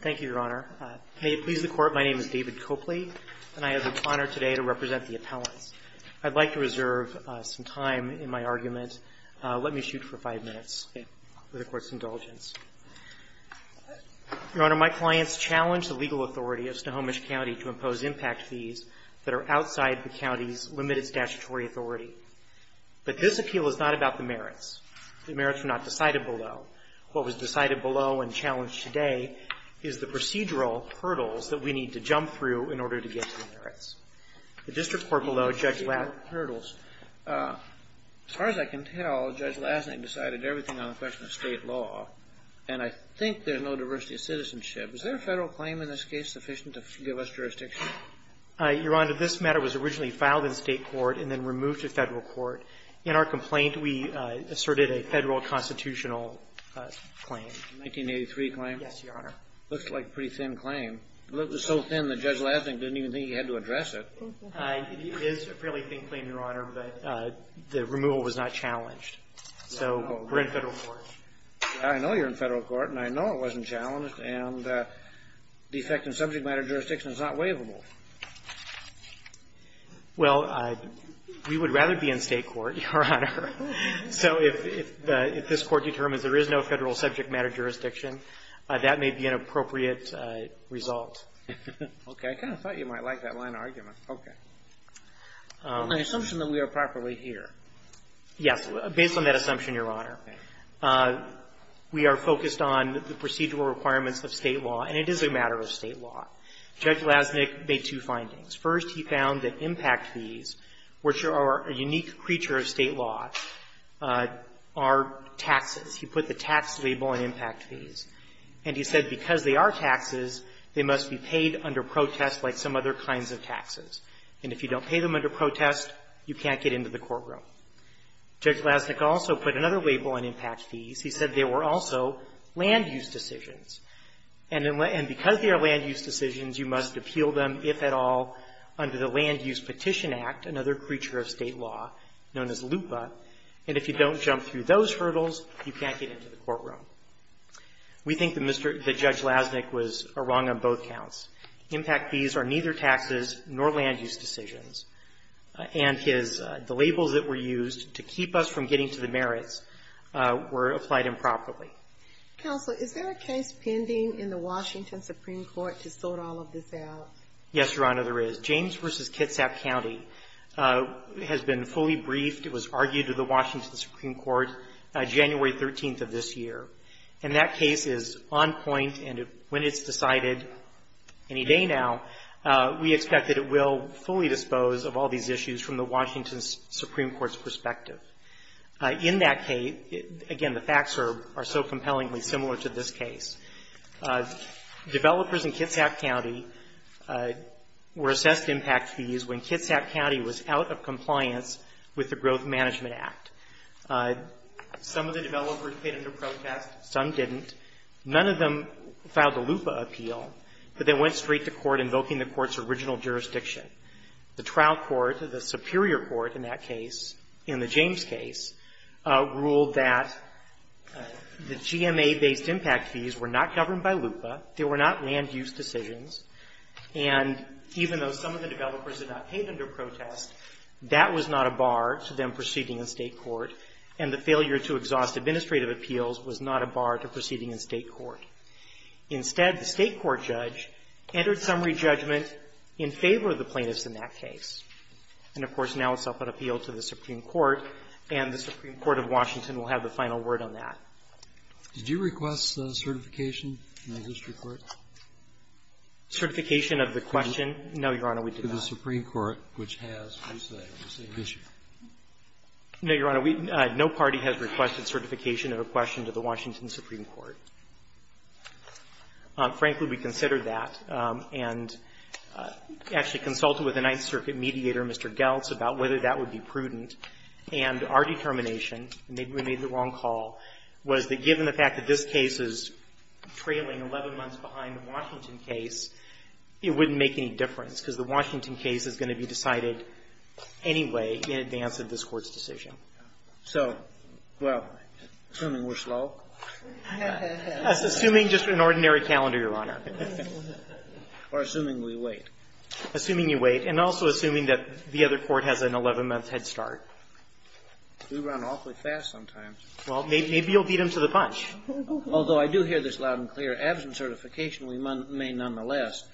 Thank you, Your Honor. May it please the Court, my name is David Copley, and I have the honor today to represent the appellants. I'd like to reserve some time in my argument. Let me shoot for five minutes for the Court's indulgence. Your Honor, my clients challenged the legal authority of Snohomish County to impose impact fees that are outside the county's limited statutory authority. But this appeal is not about the merits. The merits were not decided below. What was decided below and challenged today is the procedural hurdles that we need to jump through in order to get to the merits. The district court below, Judge Lassnig As far as I can tell, Judge Lassnig decided everything on the question of state law, and I think there's no diversity of citizenship. Is there a federal claim in this case sufficient to give us jurisdiction? Your Honor, this matter was originally filed in state court and then removed to federal court. In our complaint, we asserted a federal constitutional claim. 1983 claim? Yes, Your Honor. Looks like a pretty thin claim. It was so thin that Judge Lassnig didn't even think he had to address it. It is a fairly thin claim, Your Honor, but the removal was not challenged. So we're in federal court. I know you're in federal court, and I know it wasn't challenged, and the effect in subject matter jurisdiction is not waivable. Well, we would rather be in state court, Your Honor. So if this Court determines there is no federal subject matter jurisdiction, that may be an appropriate result. Okay. I kind of thought you might like that line of argument. Okay. On the assumption that we are properly here. Yes. Based on that assumption, Your Honor, we are focused on the procedural requirements of state law, and it is a matter of state law. Judge Lassnig made two findings. First, he found that impact fees, which are a unique creature of state law, are taxes. He put the tax label on impact fees. And he said because they are taxes, they must be paid under protest like some other kinds of taxes. And if you don't pay them under protest, you can't get into the courtroom. Judge Lassnig also put another label on impact fees. He said they were also land use decisions. And because they are land use decisions, you must appeal them, if at all, under the Land Use Petition Act, another creature of state law known as LUPA. And if you don't jump through those hurdles, you can't get into the courtroom. We think that Mr. — that Judge Lassnig was wrong on both counts. Impact fees are neither taxes nor land use decisions. And his — the labels that were used to keep us from getting to the merits were applied improperly. Counsel, is there a case pending in the Washington Supreme Court to sort all of this out? Yes, Your Honor, there is. James v. Kitsap County has been fully briefed. It was argued to the Washington Supreme Court January 13th of this year. And that case is on point. And when it's decided, any day now, we expect that it will fully dispose of all these issues from the Washington Supreme Court's perspective. In that case, again, the facts are so compellingly similar to this case. Developers in Kitsap County were assessed impact fees when Kitsap County was out of compliance with the Growth Management Act. Some of the developers paid under protest. Some didn't. None of them filed a LUPA appeal. But they went straight to court invoking the court's original jurisdiction. The trial court, the Superior Court in that case, in that the GMA-based impact fees were not governed by LUPA. They were not land-use decisions. And even though some of the developers had not paid under protest, that was not a bar to them proceeding in State court. And the failure to exhaust administrative appeals was not a bar to proceeding in State court. Instead, the State court judge entered summary judgment in favor of the plaintiffs in that case. And, of course, now it's up on appeal to the Supreme Court. And the Supreme Court of Washington will have the final word on that. Did you request certification in the district court? Certification of the question? No, Your Honor, we did not. To the Supreme Court, which has the same issue. No, Your Honor. We no party has requested certification of a question to the Washington Supreme Court. Frankly, we considered that and actually consulted with the Ninth Circuit mediator, Mr. Geltz, about whether that would be prudent. And our determination and maybe we made the wrong call, was that given the fact that this case is trailing 11 months behind the Washington case, it wouldn't make any difference because the Washington case is going to be decided anyway in advance of this Court's decision. So, well, assuming we're slow? Assuming just an ordinary calendar, Your Honor. Or assuming we wait. Assuming you wait. And also assuming that the other court has an 11-month head start. We run awfully fast sometimes. Well, maybe you'll beat them to the punch. Although I do hear this loud and clear. Absent certification, we may nonetheless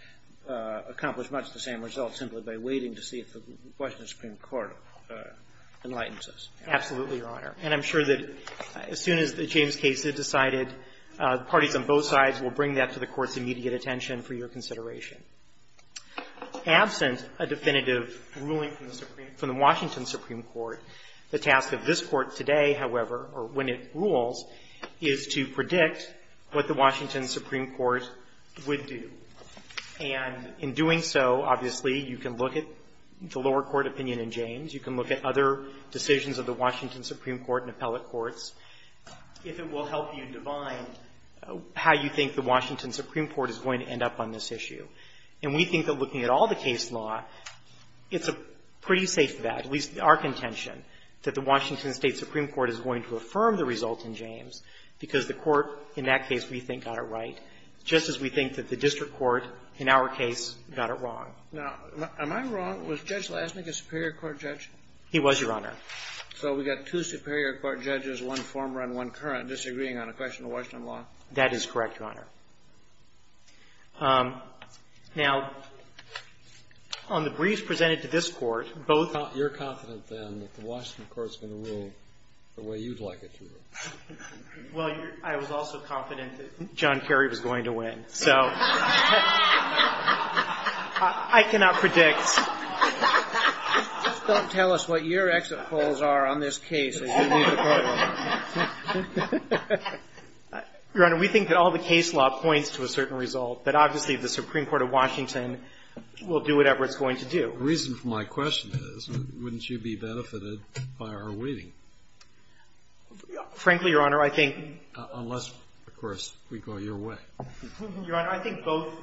accomplish much the same result simply by waiting to see if the Washington Supreme Court enlightens us. Absolutely, Your Honor. And I'm sure that as soon as the James case is decided, parties on both sides will bring that to the Court's immediate attention for your consideration. Absent a definitive ruling from the Washington Supreme Court, the task of this Court today, however, or when it rules, is to predict what the Washington Supreme Court would do. And in doing so, obviously, you can look at the lower court opinion in James, you can look at other decisions of the Washington Supreme Court in appellate courts, if it will help you divine how you think the Washington Supreme Court is going to end up on this issue. And we think that looking at all the case law, it's a pretty safe bet, at least our contention, that the Washington State Supreme Court is going to affirm the result in James because the Court, in that case, we think got it right, just as we think that the district court, in our case, got it wrong. Now, am I wrong? Was Judge Lasnik a Superior Court judge? He was, Your Honor. So we've got two Superior Court judges, one former and one current, disagreeing on a question of Washington law? That is correct, Your Honor. Now, on the briefs presented to this Court, both of you are confident, then, that the Washington Court is going to rule the way you'd like it to rule? Well, I was also confident that John Kerry was going to win, so I cannot predict. Just don't tell us what your exit polls are on this case as you leave the courtroom. Your Honor, we think that all the case law points to a certain result, that obviously the Supreme Court of Washington will do whatever it's going to do. The reason for my question is, wouldn't you be benefited by our waiting? Frankly, Your Honor, I think — Unless, of course, we go your way. Your Honor, I think both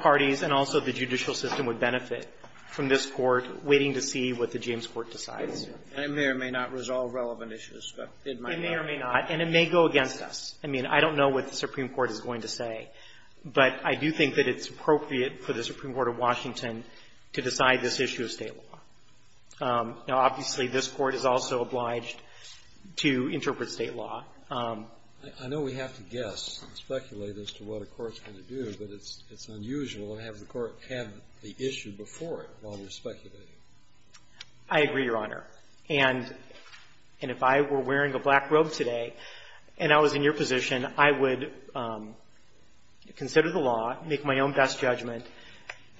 parties and also the judicial system would benefit from this Court waiting to see what the James Court decides. And it may or may not resolve relevant issues, but it might not. It may or may not. And it may go against us. I mean, I don't know what the Supreme Court is going to say, but I do think that it's appropriate for the Supreme Court of Washington to decide this issue of State law. Now, obviously, this Court is also obliged to interpret State law. I know we have to guess and speculate as to what a Court's going to do, but it's unusual to have the Court have the issue before it while we're speculating. I agree, Your Honor. And if I were wearing a black robe today and I was in your position, I would consider the law, make my own best judgment,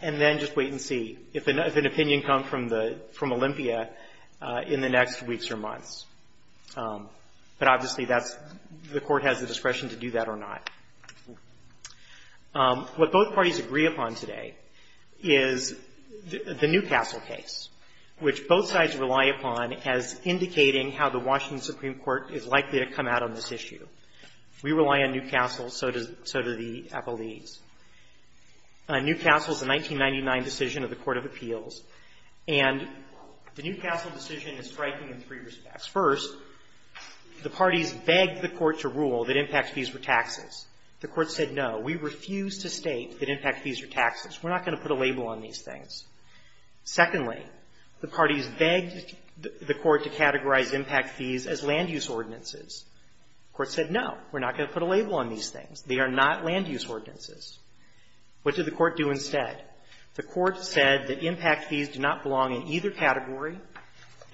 and then just wait and see if an opinion comes from Olympia in the next weeks or months. But obviously, that's — the Court has the discretion to do that or not. What both parties agree upon today is the Newcastle case, which both sides rely upon as indicating how the Washington Supreme Court is likely to come out on this issue. We rely on Newcastle, so do the appellees. Newcastle's a 1999 decision of the Court of Appeals, and the Newcastle decision is striking in three respects. First, the parties begged the Court to rule that impact fees were taxes. The Court said, no, we refuse to state that impact fees are taxes. We're not going to put a label on these things. Secondly, the parties begged the Court to categorize impact fees as land-use ordinances. The Court said, no, we're not going to put a label on these things. They are not land-use ordinances. What did the Court do instead? The Court said that impact fees do not belong in either category.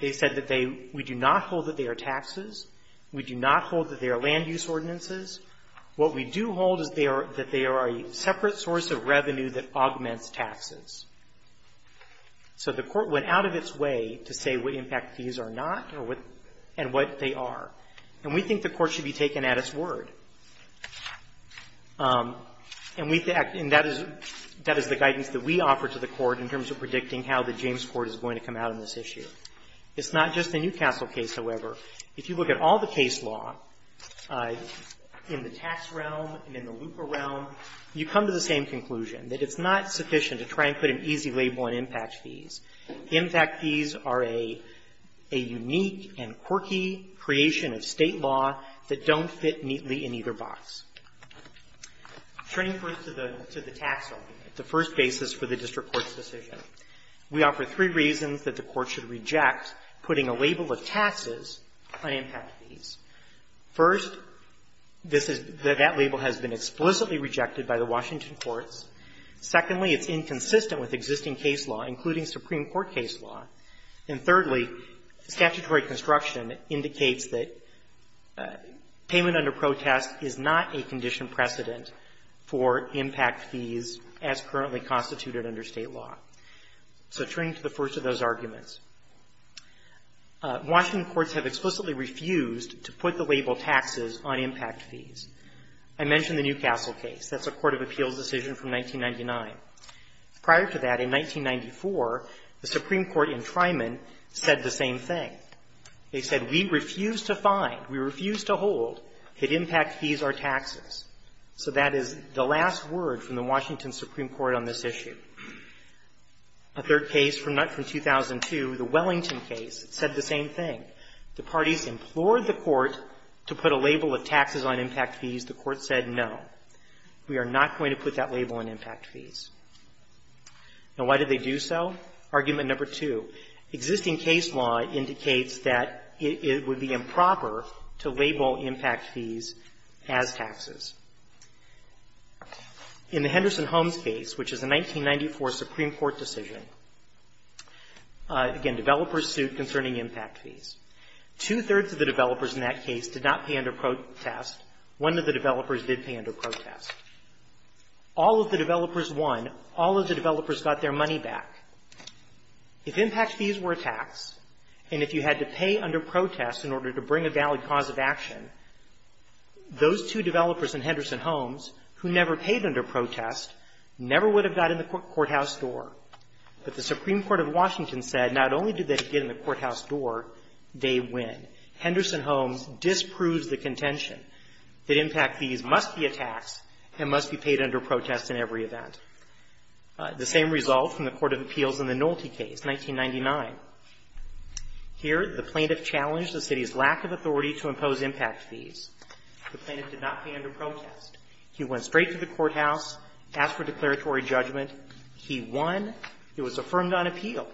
They said that they — we do not hold that they are taxes. We do not hold that they are land-use ordinances. What we do hold is they are — that they are a separate source of revenue that augments taxes. So the Court went out of its way to say what impact fees are not or what — and what they are. And we think the Court should be taken at its word. And we — and that is — that is the guidance that we offer to the Court in terms of predicting how the James Court is going to come out on this issue. It's not just the Newcastle case, however. If you look at all the case law in the tax realm and in the looper realm, you come to the same conclusion, that it's not sufficient to try and put an easy label on impact fees. Impact fees are a — a unique and quirky creation of State law that don't fit neatly in either box. Turning first to the — to the tax argument, the first basis for the district court's decision, we offer three reasons that the Court should reject putting a label of taxes on impact fees. First, this is — that label has been explicitly rejected by the Washington courts. Secondly, it's inconsistent with existing case law, including Supreme Court case law. And thirdly, statutory construction indicates that payment under protest is not a condition precedent for impact fees as currently constituted under State law. So turning to the first of those arguments, Washington courts have explicitly refused to put the label taxes on impact fees. I mentioned the Newcastle case. That's a court of appeals decision from 1999. Prior to that, in 1994, the Supreme Court in Tryman said the same thing. They said, we refuse to find, we refuse to hold that impact fees are taxes. So that is the last word from the Washington Supreme Court on this issue. A third case from 2002, the Wellington case, said the same thing. The parties implored the Court to put a label of taxes on impact fees. The Court said, no, we are not going to put that label on impact fees. Now, why did they do so? Argument number two, existing case law indicates that it would be improper to label impact fees as taxes. In the Henderson-Holmes case, which is a 1994 Supreme Court decision, again, developers sued concerning impact fees. Two-thirds of the developers in that case did not pay under protest. One of the developers did pay under protest. All of the developers won. All of the developers got their money back. If impact fees were a tax, and if you had to pay under protest in order to bring a valid cause of action, those two developers in Henderson-Holmes, who never paid under protest, never would have got in the courthouse door. But the Supreme Court of Washington said not only did they get in the courthouse door, they win. Henderson-Holmes disproves the contention that impact fees must be a tax and must be paid under protest in every event. The same result from the Court of Appeals in the Nolte case, 1999. Here, the plaintiff challenged the city's lack of authority to impose impact fees. The plaintiff did not pay under protest. He went straight to the courthouse, asked for declaratory judgment. He won. It was affirmed on appeal.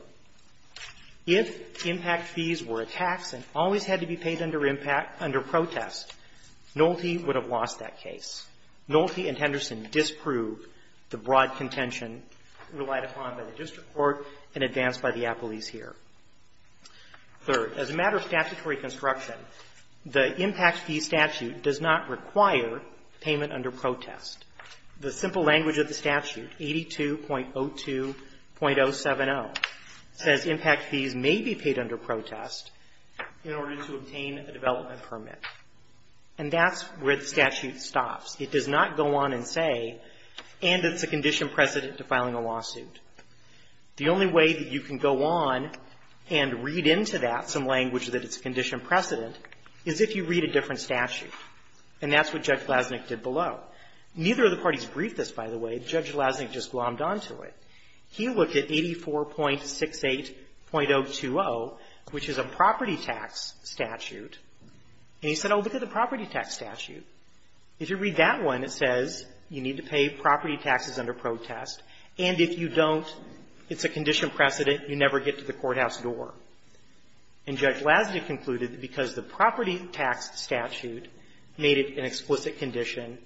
If impact fees were a tax and always had to be paid under protest, Nolte would have lost that case. Nolte and Henderson disprove the broad contention relied upon by the district attorneys here. Third, as a matter of statutory construction, the impact fee statute does not require payment under protest. The simple language of the statute, 82.02.070, says impact fees may be paid under protest in order to obtain a development permit. And that's where the statute stops. It does not go on and say, and it's a condition precedent to filing a lawsuit. The only way that you can go on and read into that some language that it's a condition precedent is if you read a different statute. And that's what Judge Glasnick did below. Neither of the parties briefed this, by the way. Judge Glasnick just glommed on to it. He looked at 84.68.020, which is a property tax statute. And he said, oh, look at the property tax statute. If you read that one, it says you need to pay property taxes under protest. And if you don't, it's a condition precedent. You never get to the courthouse door. And Judge Glasnick concluded that because the property tax statute made it an explicit condition,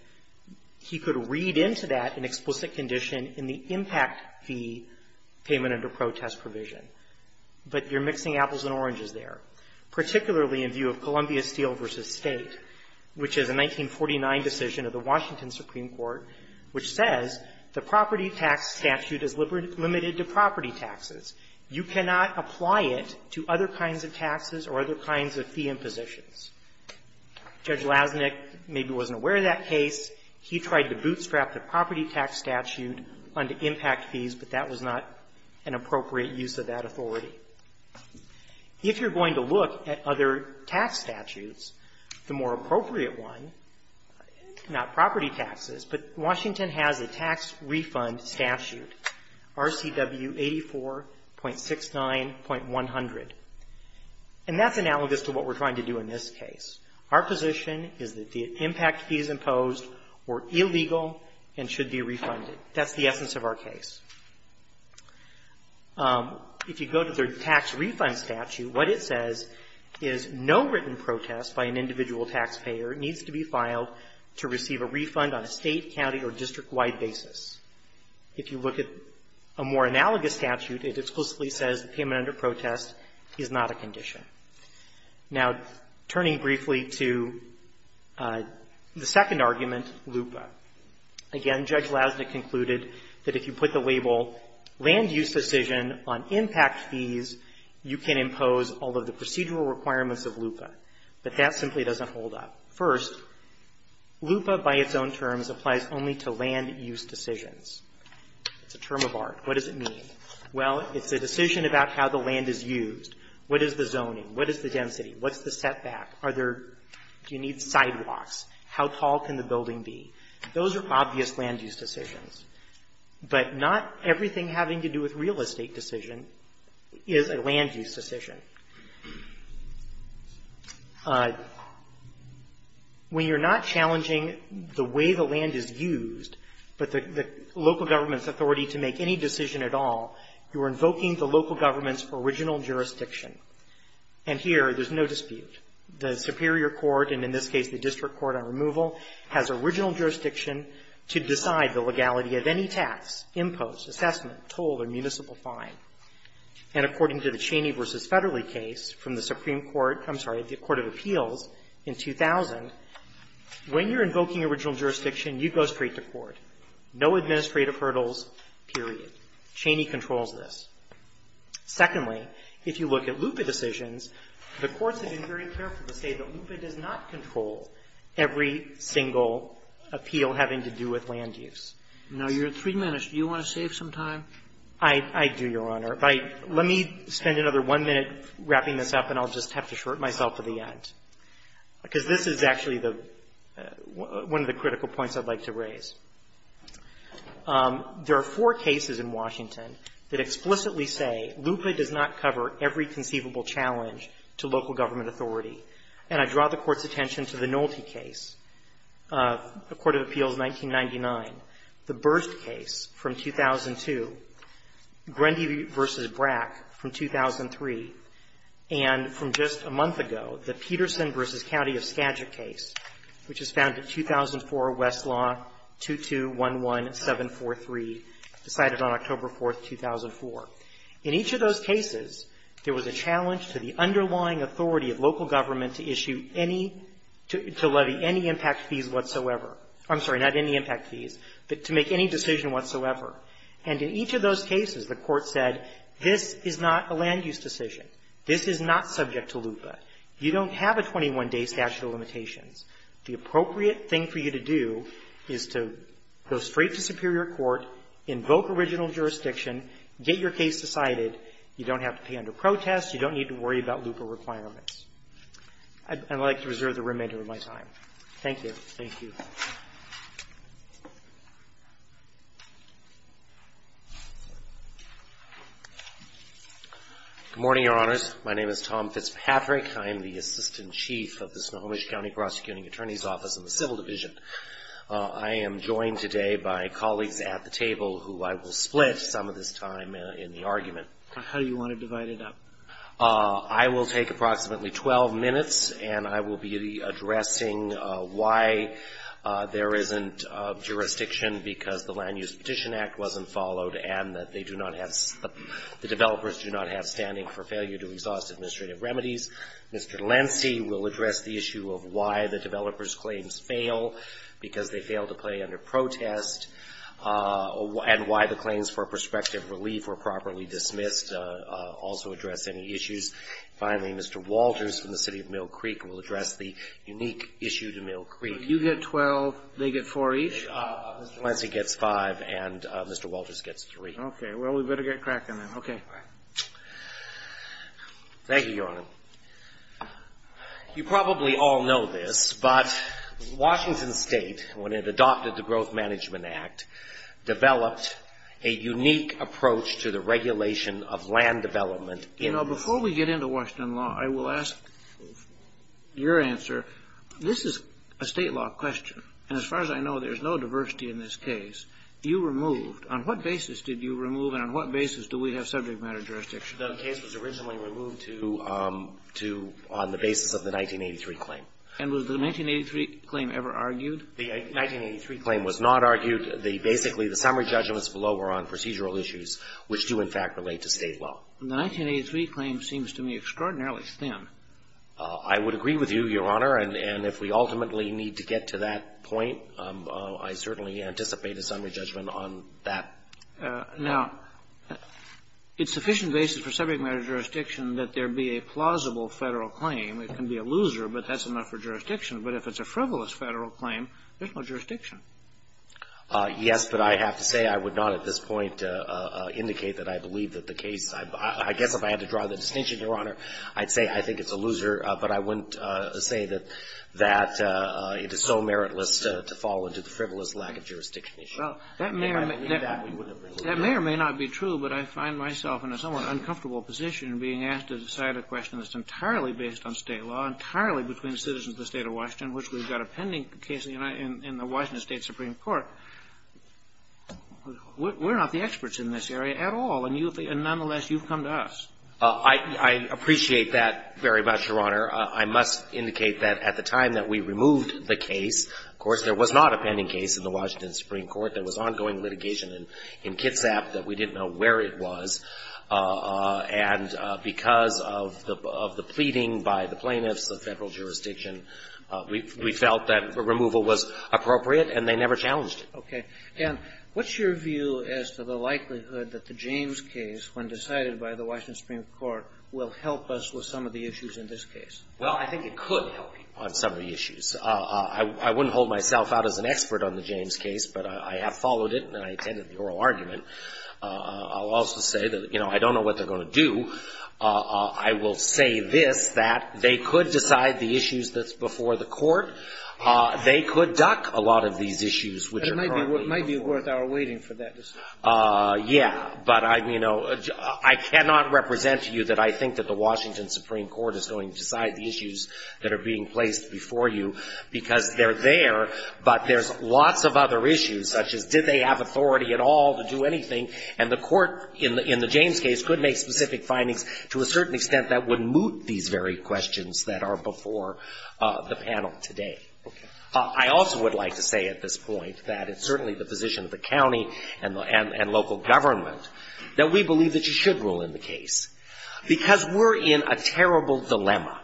he could read into that an explicit condition in the impact fee payment under protest provision. But you're mixing apples and oranges there, particularly in view of Columbia Steel v. State, which is a 1949 decision of the Washington Supreme Court which says the property tax statute is limited to property taxes. You cannot apply it to other kinds of taxes or other kinds of fee impositions. Judge Glasnick maybe wasn't aware of that case. He tried to bootstrap the property tax statute under impact fees, but that was not an appropriate use of that authority. If you're going to look at other tax statutes, the more appropriate one, not property taxes, but Washington has a tax refund statute, RCW 84.69.100. And that's analogous to what we're trying to do in this case. Our position is that the impact fees imposed were illegal and should be refunded. That's the essence of our case. If you go to the tax refund statute, what it says is no written protest by an individual taxpayer needs to be filed to receive a refund on a State, county, or district-wide basis. If you look at a more analogous statute, it exclusively says the payment under protest is not a condition. Now, turning briefly to the second argument, LUPA. Again, Judge Glasnick concluded that if you put the label land use decision on impact fees, you can impose all of the procedural requirements of LUPA. But that simply doesn't hold up. First, LUPA by its own terms applies only to land use decisions. It's a term of art. What does it mean? Well, it's a decision about how the land is used. What is the zoning? What is the density? What's the setback? Are there do you need sidewalks? How tall can the building be? Those are obvious land use decisions. But not everything having to do with real estate decision is a land use decision. When you're not challenging the way the land is used, but the local government's authority to make any decision at all, you're invoking the local government's original jurisdiction. And here, there's no dispute. The superior court, and in this case the district court on removal, has original jurisdiction to decide the legality of any tax, impose, assessment, toll, or municipal fine. And according to the Cheney v. Federley case from the Supreme Court of Appeals in 2000, when you're invoking original jurisdiction, you go straight to court. No administrative hurdles, period. Cheney controls this. Secondly, if you look at LUPA decisions, the courts have been very careful to say that LUPA does not control every single appeal having to do with land use. Now, you're at three minutes. Do you want to save some time? I do, Your Honor. Let me spend another one minute wrapping this up, and I'll just have to short myself to the end. Because this is actually the one of the critical points I'd like to raise. There are four cases in Washington that explicitly say LUPA does not cover every conceivable challenge to local government authority. And I draw the Court's attention to the Nolte case of the Court of Appeals 1999, the Burst case from 2002, Grundy v. Brack from 2003, and from just a month ago, the Peterson v. County of Skagit case, which was found in 2004, Westlaw 2211743, decided on October 4th, 2004. In each of those cases, there was a challenge to the underlying authority of local government to issue any to levy any impact fees whatsoever. I'm sorry, not any impact fees, but to make any decision whatsoever. And in each of those cases, the Court said this is not a land use decision. This is not subject to LUPA. You don't have a 21-day statute of limitations. The appropriate thing for you to do is to go straight to superior court, invoke original jurisdiction, get your case decided. You don't have to pay under protest. You don't need to worry about LUPA requirements. I'd like to reserve the remainder of my time. Thank you. Thank you. Good morning, Your Honors. My name is Tom Fitzpatrick. I am the Assistant Chief of the Snohomish County Prosecuting Attorney's Office in the Civil Division. I am joined today by colleagues at the table who I will split some of this time in the argument. How do you want to divide it up? I will take approximately 12 minutes, and I will be addressing why there isn't jurisdiction because the Land Use Petition Act wasn't followed and that they do not have the developers do not have standing for failure to exhaust administrative remedies. Mr. Lancy will address the issue of why the developers' claims fail because they fail to play under protest and why the claims for prospective relief were properly dismissed, also address any issues. Finally, Mr. Walters from the City of Mill Creek will address the unique issue to Mill Creek. You get 12, they get 4 each? Mr. Lancy gets 5, and Mr. Walters gets 3. Okay. Well, we better get cracking then. Okay. Thank you, Your Honor. You probably all know this, but Washington State, when it adopted the Growth Management Act, developed a unique approach to the regulation of land development. You know, before we get into Washington law, I will ask your answer. This is a state law question, and as far as I know, there's no diversity in this case. You removed, on what basis did you remove, and on what basis do we have subject matter jurisdiction? The case was originally removed to, on the basis of the 1983 claim. And was the 1983 claim ever argued? The 1983 claim was not argued. Basically, the summary judgments below were on procedural issues, which do in fact relate to state law. The 1983 claim seems to me extraordinarily thin. I would agree with you, Your Honor, and if we ultimately need to get to that point, I certainly anticipate a summary judgment on that. Now, it's sufficient basis for subject matter jurisdiction that there be a plausible Federal claim. It can be a loser, but that's enough for jurisdiction. But if it's a frivolous Federal claim, there's no jurisdiction. Yes, but I have to say I would not at this point indicate that I believe that the case — I guess if I had to draw the distinction, Your Honor, I'd say I think it's a loser, but I wouldn't say that it is so meritless to fall into the frivolous lack of jurisdiction issue. Well, that may or may not be true, but I find myself in a somewhat uncomfortable position being asked to decide a question that's entirely based on state law, entirely between citizens of the State of Washington, which we've got a pending case in the Washington State Supreme Court. We're not the experts in this area at all. And nonetheless, you've come to us. I appreciate that very much, Your Honor. I must indicate that at the time that we removed the case, of course, there was not a pending case in the Washington Supreme Court. There was ongoing litigation in Kitsap that we didn't know where it was. And because of the pleading by the plaintiffs, the Federal jurisdiction, we felt that removal was appropriate, and they never challenged it. Okay. And what's your view as to the likelihood that the James case, when decided by the Washington Supreme Court, will help us with some of the issues in this case? Well, I think it could help you on some of the issues. I wouldn't hold myself out as an expert on the James case, but I have followed it, and I attended the oral argument. I'll also say that, you know, I don't know what they're going to do. I will say this, that they could decide the issues that's before the court. They could duck a lot of these issues, which are probably important. It might be worth our waiting for that decision. Yeah. But, you know, I cannot represent to you that I think that the Washington Supreme Court is going to decide the issues that are being placed before you, because they're there, but there's lots of other issues, such as did they have authority at all to do anything, and the court in the James case could make specific findings to a certain extent that would moot these very questions that are before the panel today. Okay. I also would like to say at this point that it's certainly the position of the county and local government that we believe that you should rule in the case, because we're in a terrible dilemma,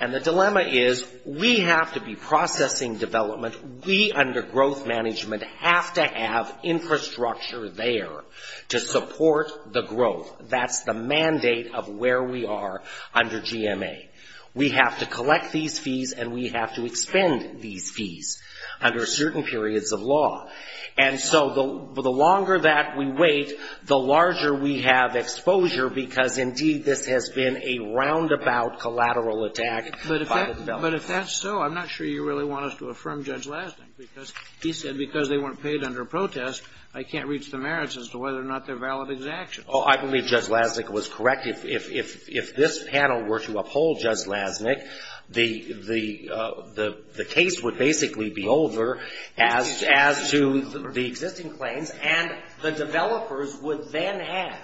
and the dilemma is we have to be processing development. We, under growth management, have to have infrastructure there to support the growth. That's the mandate of where we are under GMA. We have to collect these fees and we have to expend these fees under certain periods of law. And so the longer that we wait, the larger we have exposure, because, indeed, this has been a roundabout collateral attack by the development. But if that's so, I'm not sure you really want us to affirm Judge Lasnik, because he said because they weren't paid under protest, I can't reach the merits as to whether or not they're valid exactions. Oh, I believe Judge Lasnik was correct. If this panel were to uphold Judge Lasnik, the case would basically be over as to the existing claims, and the developers would then have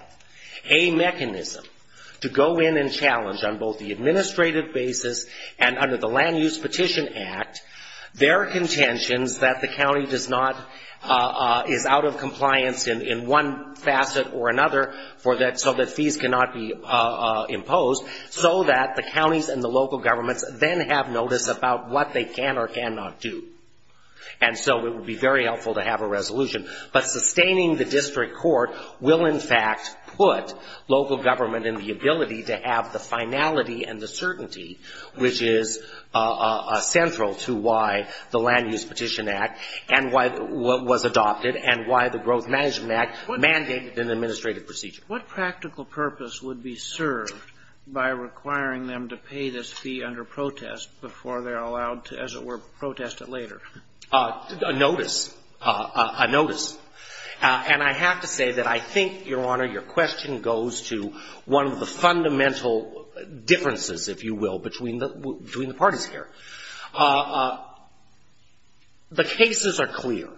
a mechanism to go in and challenge on both the administrative basis and under the Land Use Petition Act their contentions that the county does not, is out of compliance in one facet or another, so that fees cannot be imposed, so that the counties and the local governments then have notice about what they can or cannot do. And so it would be very helpful to have a resolution. But sustaining the district court will, in fact, put local government in the ability to have the finality and the certainty, which is central to why the Land Use Petition Act was adopted and why the Growth Management Act mandated an administrative procedure. What practical purpose would be served by requiring them to pay this fee under protest before they're allowed to, as it were, protest it later? A notice. A notice. And I have to say that I think, Your Honor, your question goes to one of the fundamental differences, if you will, between the parties here. The cases are clear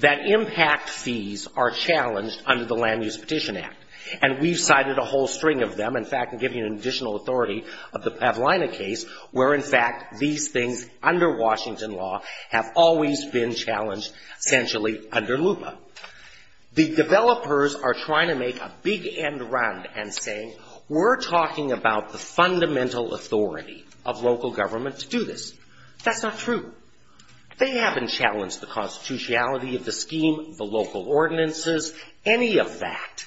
that impact fees are challenged under the Land Use Petition Act. And we've cited a whole string of them. In fact, I'll give you an additional authority of the Pavlina case, where, in fact, these things under Washington law have always been challenged essentially under LUPA. The developers are trying to make a big end run and saying, we're talking about the fundamental authority of local government to do this. That's not true. They haven't challenged the constitutionality of the scheme, the local ordinances, any of that.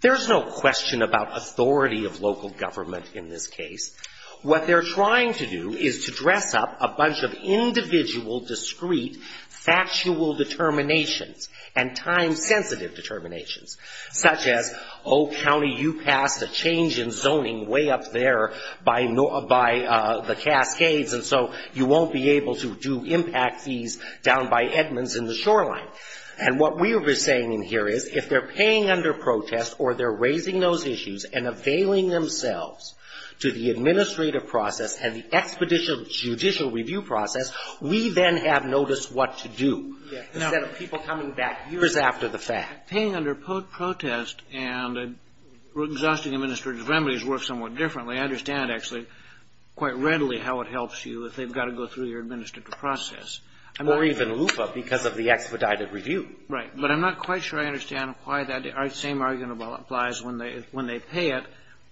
There's no question about authority of local government in this case. What they're trying to do is to dress up a bunch of individual, discreet, factual determinations and time-sensitive determinations, such as, oh, county, you passed a change in zoning way up there by the Cascades, and so you won't be able to do impact fees down by Edmonds in the shoreline. And what we're saying in here is, if they're paying under protest or they're raising those issues and availing themselves to the administrative process and the expeditious judicial review process, we then have notice what to do instead of people coming back years after the fact. Paying under protest and exhausting administrative remedies works somewhat differently. I understand, actually, quite readily how it helps you if they've got to go through your administrative process. Or even LUFA because of the expedited review. Right. But I'm not quite sure I understand why that same argument applies when they pay it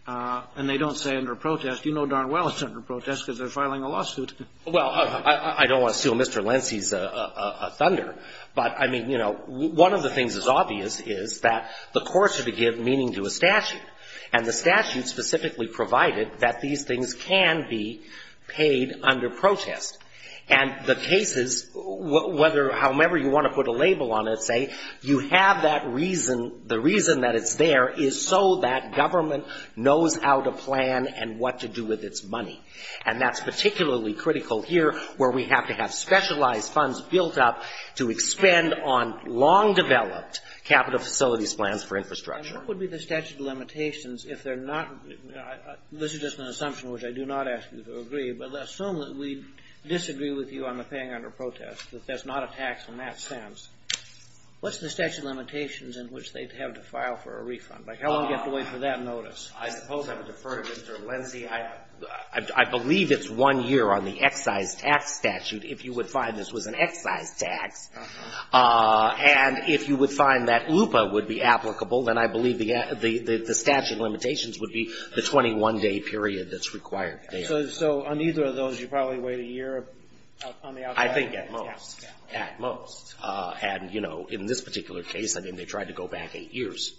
and they don't say under protest. You know darn well it's under protest because they're filing a lawsuit. Well, I don't want to steal Mr. Lenski's thunder, but, I mean, you know, one of the things that's obvious is that the courts are to give meaning to a statute, and the statute specifically provided that these things can be paid under protest. And the cases, whether, however you want to put a label on it, say, you have that reason, the reason that it's there is so that government knows how to plan and what to do with its money. And that's particularly critical here where we have to have specialized funds built up to expend on long-developed capital facilities plans for infrastructure. And what would be the statute of limitations if they're not, this is just an assumption which I do not ask you to agree, but assume that we disagree with you on the paying under protest, that there's not a tax in that sense. What's the statute of limitations in which they'd have to file for a refund? Like how long do you have to wait for that notice? I suppose I would defer to Mr. Lenski. I believe it's one year on the excise tax statute if you would find this was an excise tax. And if you would find that LUPA would be applicable, then I believe the statute of limitations would be the 21-day period that's required there. So on either of those, you probably wait a year on the outside tax? I think at most, at most. And, you know, in this particular case, I mean, they tried to go back eight years.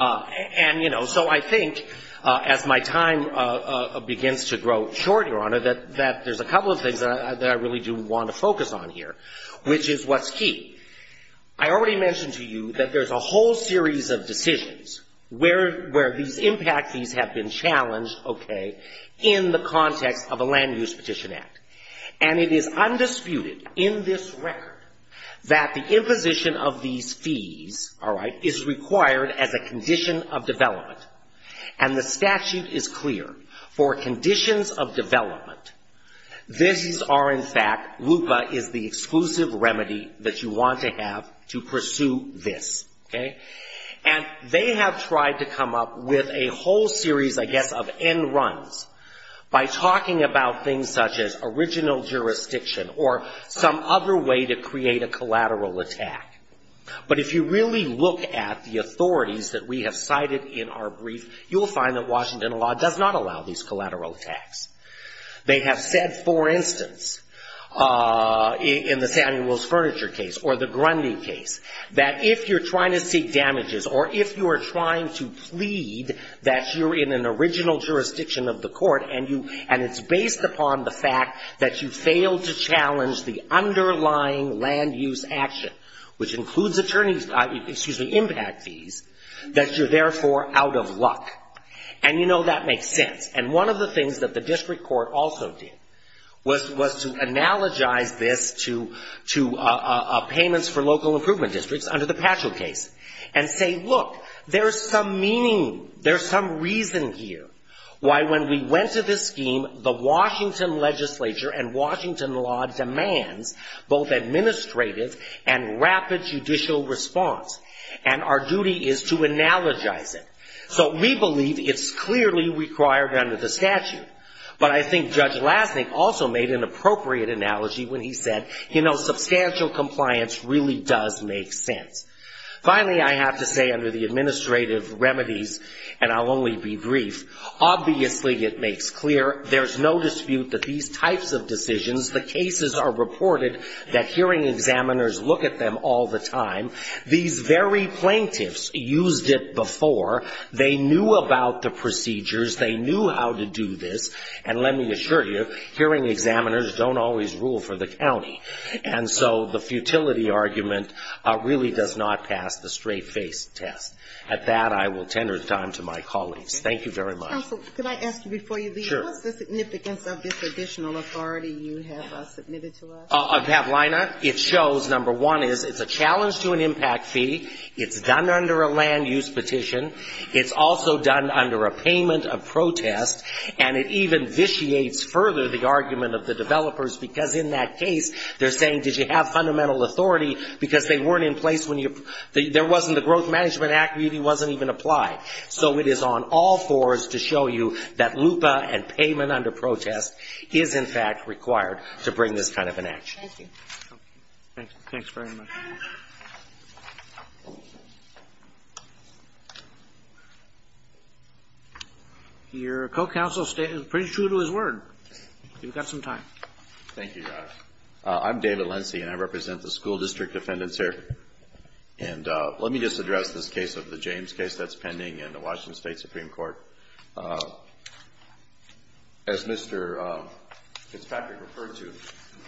And, you know, so I think as my time begins to grow short, Your Honor, that there's a couple of things that I really do want to focus on here, which is what's key. I already mentioned to you that there's a whole series of decisions where these impact fees have been challenged, okay, in the context of a land use petition act. And it is undisputed in this record that the imposition of these fees, all right, is required as a condition of development. And the statute is clear. For conditions of development, these are in fact, LUPA is the exclusive remedy that you want to have to pursue this, okay. And they have tried to come up with a whole series, I guess, of end runs by talking about things such as original jurisdiction or some other way to create a collateral attack. But if you really look at the authorities that we have cited in our brief, you'll find that Washington law does not allow these collateral attacks. They have said, for instance, in the Samuel's Furniture case or the Grundy case, that if you're trying to seek damages or if you are trying to plead that you're in an original jurisdiction of the court and it's based upon the fact that you failed to challenge the underlying land use action, which includes attorneys, excuse me, impact fees, that you're therefore out of luck. And you know that makes sense. And one of the things that the district court also did was to analogize this to payments for local improvement districts under the Patchell case and say, look, there's some meaning, there's some reason here why when we went to this scheme, the Washington legislature and Washington law demands both administrative and rapid judicial response. And our duty is to analogize it. So we believe it's clearly required under the statute. But I think Judge Lasnik also made an appropriate analogy when he said, you know, substantial compliance really does make sense. Finally, I have to say under the administrative remedies, and I'll only be brief, obviously it makes clear there's no dispute that these types of decisions, the cases are reported that hearing examiners look at them all the time. These very plaintiffs used it before. They knew about the procedures. They knew how to do this. And let me assure you, hearing examiners don't always rule for the county. And so the futility argument really does not pass the straight-faced test. At that, I will tender time to my colleagues. Thank you very much. Counsel, could I ask you before you leave? Sure. What's the significance of this additional authority you have submitted to us? It shows, number one, is it's a challenge to an impact fee. It's done under a land use petition. It's also done under a payment of protest. And it even vitiates further the argument of the developers, because in that case, they're saying, did you have fundamental authority, because they weren't in place when you there wasn't the Growth Management Act. It wasn't even applied. So it is on all fours to show you that LUPA and payment under protest is, in fact, required to bring this kind of an action. Thank you. Thank you. Thanks very much. Your co-counsel is pretty true to his word. You've got some time. Thank you, Josh. I'm David Lindsey, and I represent the school district defendants here. And let me just address this case of the James case that's pending in the Washington State Supreme Court. As Mr. Fitzpatrick referred to,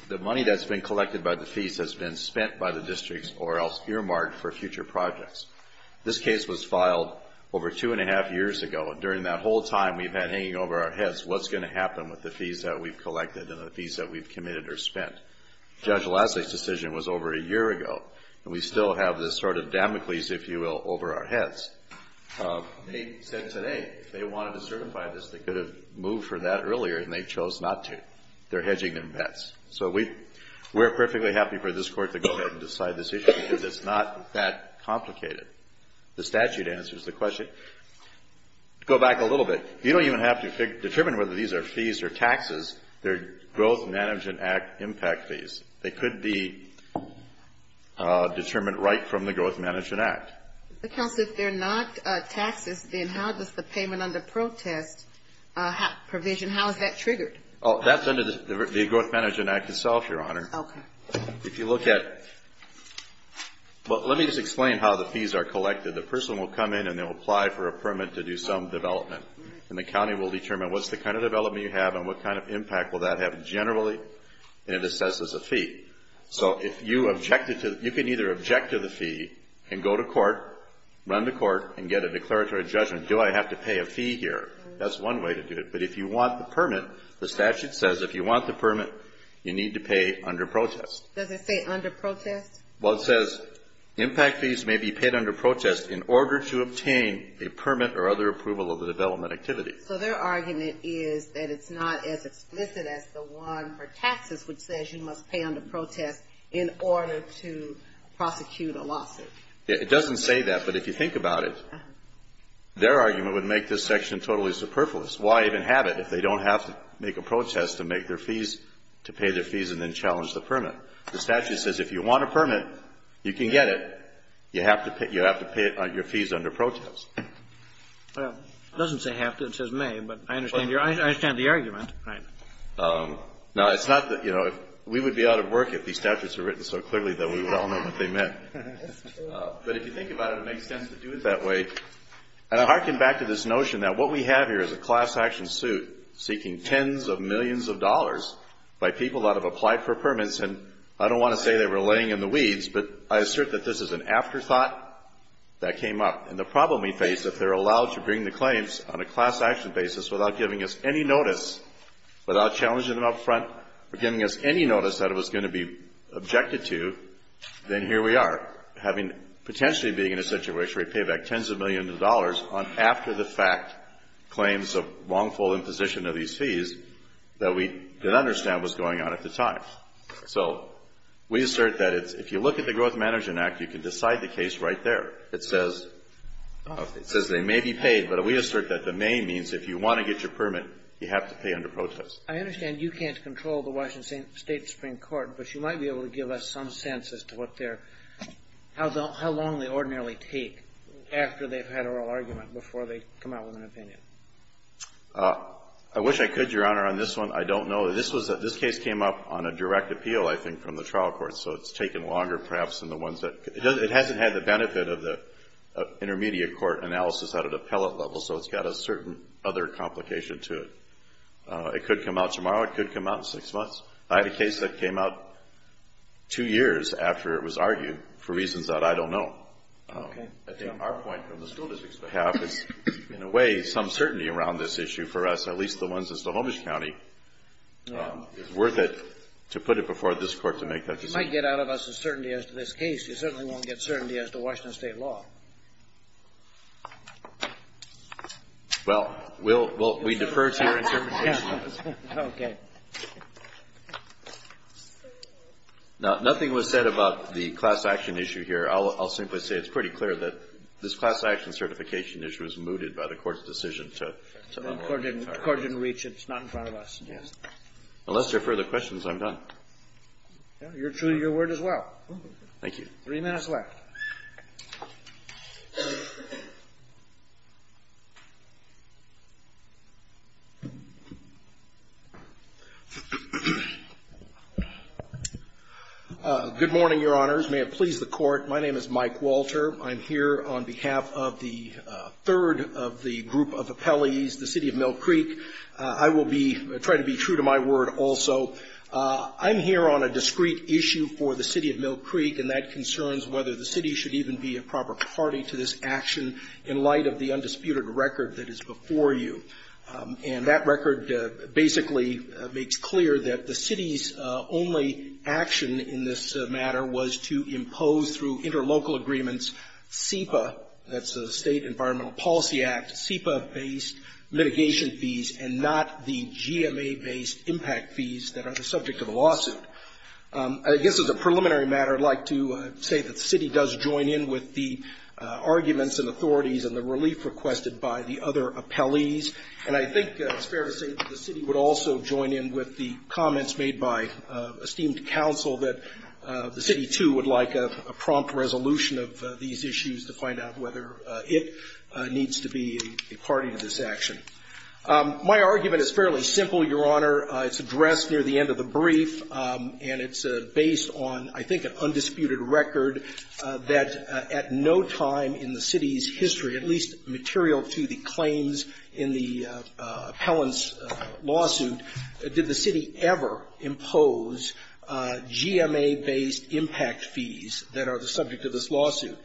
the money that's been collected by the fees has been spent by the districts or else earmarked for future projects. This case was filed over two and a half years ago. During that whole time, we've had hanging over our heads what's going to happen with the fees that we've collected and the fees that we've committed or spent. Judge Leslie's decision was over a year ago, and we still have this sort of Damocles, if you will, over our heads. They said today if they wanted to certify this, they could have moved for that earlier, and they chose not to. They're hedging their bets. So we're perfectly happy for this Court to go ahead and decide this issue, because it's not that complicated. The statute answers the question. Go back a little bit. You don't even have to determine whether these are fees or taxes. They're Growth Management Act impact fees. They could be determined right from the Growth Management Act. Counsel, if they're not taxes, then how does the payment under protest provision, how is that triggered? That's under the Growth Management Act itself, Your Honor. Okay. If you look at – well, let me just explain how the fees are collected. The person will come in and they'll apply for a permit to do some development, and the county will determine what's the kind of development you have and what kind of impact will that have generally, and it assesses a fee. So if you objected to – you can either object to the fee and go to court, run to court, and get a declaratory judgment, do I have to pay a fee here? That's one way to do it. But if you want the permit, the statute says if you want the permit, you need to pay under protest. Does it say under protest? Well, it says impact fees may be paid under protest in order to obtain a permit or other approval of the development activity. So their argument is that it's not as explicit as the one for taxes, which says you must pay under protest in order to prosecute a lawsuit. It doesn't say that, but if you think about it, their argument would make this section totally superfluous. Why even have it if they don't have to make a protest to make their fees, to pay their fees and then challenge the permit? The statute says if you want a permit, you can get it. You have to pay it on your fees under protest. Well, it doesn't say have to. It says may, but I understand the argument. Right. No, it's not that, you know, we would be out of work if these statutes were written so clearly that we would all know what they meant. That's true. But if you think about it, it makes sense to do it that way. And I hearken back to this notion that what we have here is a class action suit seeking tens of millions of dollars by people that have applied for permits, and I don't want to say they were laying in the weeds, but I assert that this is an afterthought that came up. And the problem we face, if they're allowed to bring the claims on a class action basis without giving us any notice, without challenging them up front or giving us any notice that it was going to be objected to, then here we are, having potentially being in a situation where we pay back tens of millions of dollars on after-the-fact claims of wrongful imposition of these fees that we didn't understand was going on at the time. So we assert that if you look at the Growth Management Act, you can decide the case right there. It says they may be paid, but we assert that the may means if you want to get your permit, you have to pay under protest. I understand you can't control the Washington State Supreme Court, but you might be able to give us some sense as to what their – how long they ordinarily take after they've had oral argument before they come out with an opinion. I wish I could, Your Honor, on this one. I don't know. This case came up on a direct appeal, I think, from the trial court, so it's taken longer perhaps than the ones that – it hasn't had the benefit of the intermediate court analysis at an appellate level, so it's got a certain other complication to it. It could come out tomorrow. It could come out in six months. I had a case that came out two years after it was argued for reasons that I don't know. Okay. I think our point from the school district's behalf is in a way some certainty around this issue for us, at least the ones in Stohomish County. It's worth it to put it before this Court to make that decision. You might get out of us a certainty as to this case. You certainly won't get certainty as to Washington State law. Well, we'll – we defer to your interpretation. Okay. Now, nothing was said about the class action issue here. I'll simply say it's pretty clear that this class action certification issue was mooted by the Court's decision to – The Court didn't reach it. It's not in front of us. Yes. Unless there are further questions, I'm done. You're true to your word as well. Thank you. Three minutes left. Good morning, Your Honors. May it please the Court. My name is Mike Walter. I'm here on behalf of the third of the group of appellees, the City of Mill Creek. I will be – try to be true to my word also. I'm here on a discrete issue for the City of Mill Creek, and that concerns whether the City should even be a proper party to this action in light of the undisputed record that is before you. And that record basically makes clear that the City's only action in this matter was to impose through interlocal agreements that's the State Environmental Policy Act, SEPA-based mitigation fees, and not the GMA-based impact fees that are the subject of the lawsuit. I guess as a preliminary matter, I'd like to say that the City does join in with the arguments and authorities and the relief requested by the other appellees. And I think it's fair to say that the City would also join in with the comments made by esteemed counsel that the City, too, would like a prompt resolution of these issues to find out whether it needs to be a party to this action. My argument is fairly simple, Your Honor. It's addressed near the end of the brief, and it's based on, I think, an undisputed record that at no time in the City's history, at least material to the claims in the appellant's lawsuit, did the City ever impose GMA-based impact fees that are the subject of this lawsuit.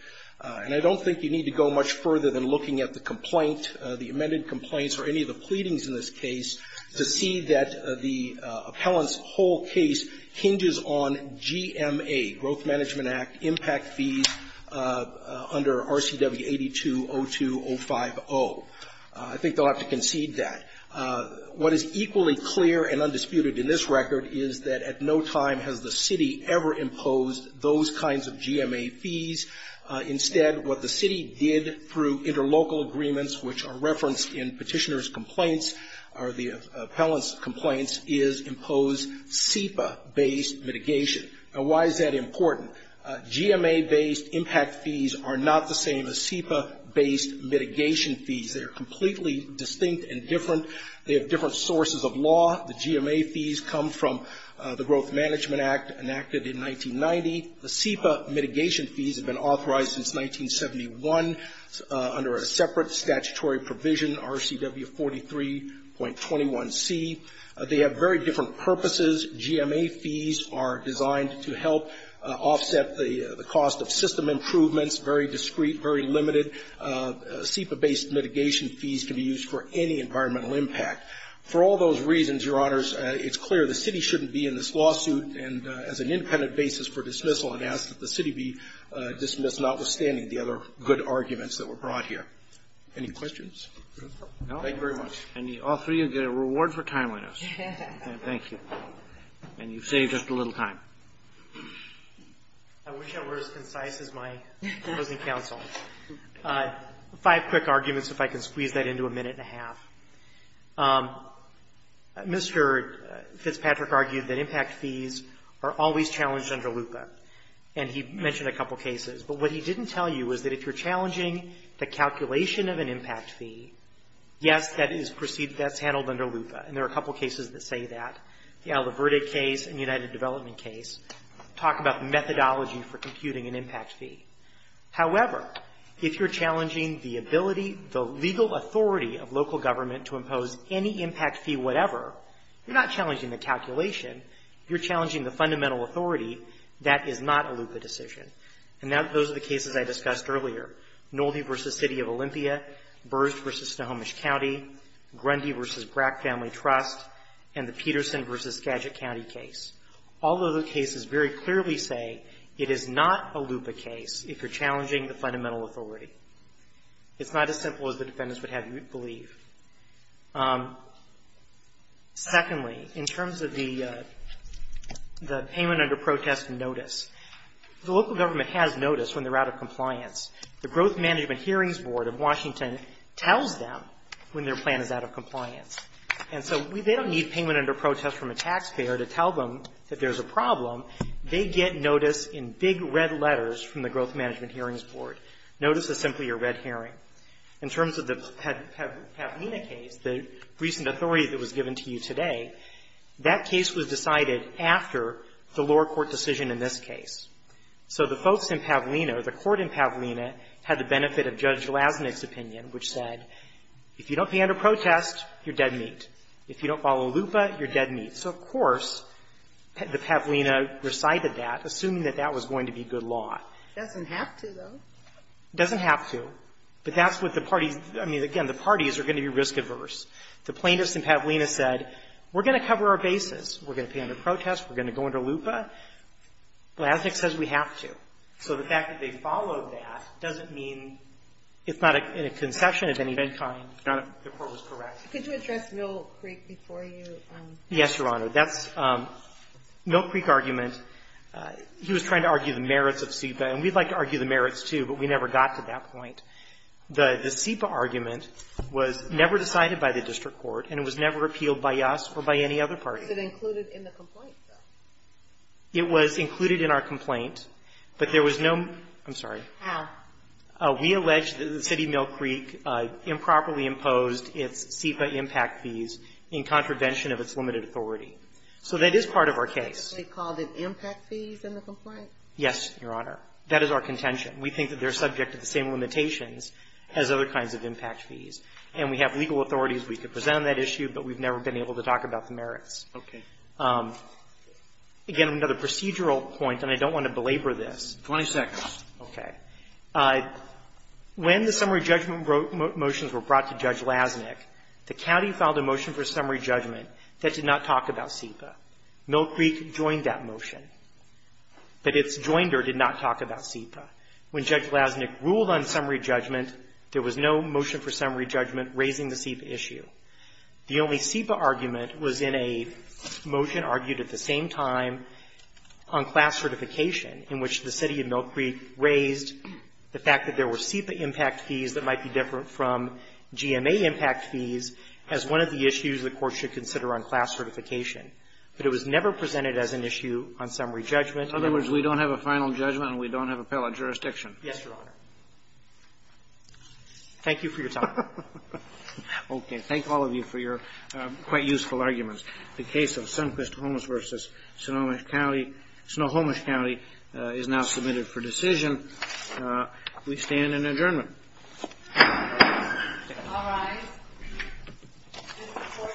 And I don't think you need to go much further than looking at the complaint, the amended complaints or any of the pleadings in this case to see that the appellant's whole case hinges on GMA, Growth Management Act, impact fees under RCW 8202.050. I think they'll have to concede that. What is equally clear and undisputed in this record is that at no time has the City ever imposed those kinds of GMA fees. Instead, what the City did through interlocal agreements, which are referenced in Petitioner's complaints or the appellant's complaints, is impose SEPA-based mitigation. Now, why is that important? GMA-based impact fees are not the same as SEPA-based mitigation fees. They're completely distinct and different. They have different sources of law. The GMA fees come from the Growth Management Act enacted in 1990. The SEPA mitigation fees have been authorized since 1971 under a separate statutory provision, RCW 43.21c. They have very different purposes. GMA fees are designed to help offset the cost of system improvements, very discreet, very limited. SEPA-based mitigation fees can be used for any environmental impact. For all those reasons, Your Honors, it's clear the City shouldn't be in this lawsuit as an independent basis for dismissal and ask that the City be dismissed, notwithstanding the other good arguments that were brought here. Any questions? Thank you very much. And all three of you get a reward for timeliness. Thank you. And you've saved us a little time. I wish I were as concise as my opposing counsel. Five quick arguments, if I can squeeze that into a minute and a half. Mr. Fitzpatrick argued that impact fees are always challenged under LUPA. And he mentioned a couple cases. But what he didn't tell you was that if you're challenging the calculation of an impact fee, yes, that's handled under LUPA. And there are a couple cases that say that. The Aldo Verde case and United Development case talk about methodology for computing an impact fee. However, if you're challenging the ability, the legal authority of local government to impose any impact fee whatever, you're not challenging the calculation. You're challenging the fundamental authority. That is not a LUPA decision. And those are the cases I discussed earlier. Nolde v. City of Olympia, Burge v. Snohomish County, Grundy v. Brack Family Trust, and the Peterson v. Skagit County case. All of those cases very clearly say it is not a LUPA case if you're challenging the fundamental authority. It's not as simple as the defendants would have you believe. Secondly, in terms of the payment under protest notice, the local government has notice when they're out of compliance. The Growth Management Hearings Board of Washington tells them when their plan is out of compliance. And so they don't need payment under protest from a taxpayer to tell them that there's a problem. They get notice in big red letters from the Growth Management Hearings Board. Notice is simply a red hearing. In terms of the Pavlina case, the recent authority that was given to you today, that case was decided after the lower court decision in this case. So the folks in Pavlina, or the court in Pavlina, had the benefit of Judge Lasnik's opinion, which said, if you don't pay under protest, you're dead meat. If you don't follow LUPA, you're dead meat. So, of course, the Pavlina recited that, assuming that that was going to be good law. Sotomayor It doesn't have to, though. Nolde It doesn't have to. But that's what the parties — I mean, again, the parties are going to be risk-adverse. The plaintiffs in Pavlina said, we're going to cover our bases. We're going to pay under protest. We're going to go under LUPA. Lasnik says we have to. So the fact that they followed that doesn't mean, if not in a conception of any kind, that the court was correct. Sotomayor Could you address Mill Creek before you — Nolde Yes, Your Honor. That's — Mill Creek argument, he was trying to argue the merits of SEPA, and we'd like to argue the merits, too, but we never got to that point. The SEPA argument was never decided by the district court, and it was never appealed by us or by any other party. Sotomayor Was it included in the complaint, though? Nolde It was included in our complaint, but there was no — I'm sorry. Sotomayor How? Nolde We allege that the city of Mill Creek improperly imposed its SEPA impact fees in contravention of its limited authority. So that is part of our case. Sotomayor They called it impact fees in the complaint? Nolde Yes, Your Honor. That is our contention. We think that they're subject to the same limitations as other kinds of impact fees. And we have legal authorities. Sotomayor I'm sorry. I'm not sure if we could present on that issue, but we've never been able to talk about the merits. Again, another procedural point, and I don't want to belabor this. Roberts 20 seconds. Sotomayor Okay. When the summary judgment motions were brought to Judge Lasnik, the county filed a motion for summary judgment that did not talk about SEPA. Mill Creek joined that motion, but its joinder did not talk about SEPA. When Judge Lasnik ruled on summary judgment, there was no motion for summary judgment raising the SEPA issue. The only SEPA argument was in a motion argued at the same time on class certification in which the city of Mill Creek raised the fact that there were SEPA impact fees that might be different from GMA impact fees as one of the issues the court should consider on class certification. But it was never presented as an issue on summary judgment. Roberts In other words, we don't have a final judgment and we don't have appellate jurisdiction. Mill Creek Yes, Your Honor. Roberts Thank you for your time. Roberts Okay. Thank all of you for your quite useful arguments. The case of Sundquist-Holmes v. Snohomish County is now submitted for decision. We stand in adjournment. All rise. This report for this session stands adjourned.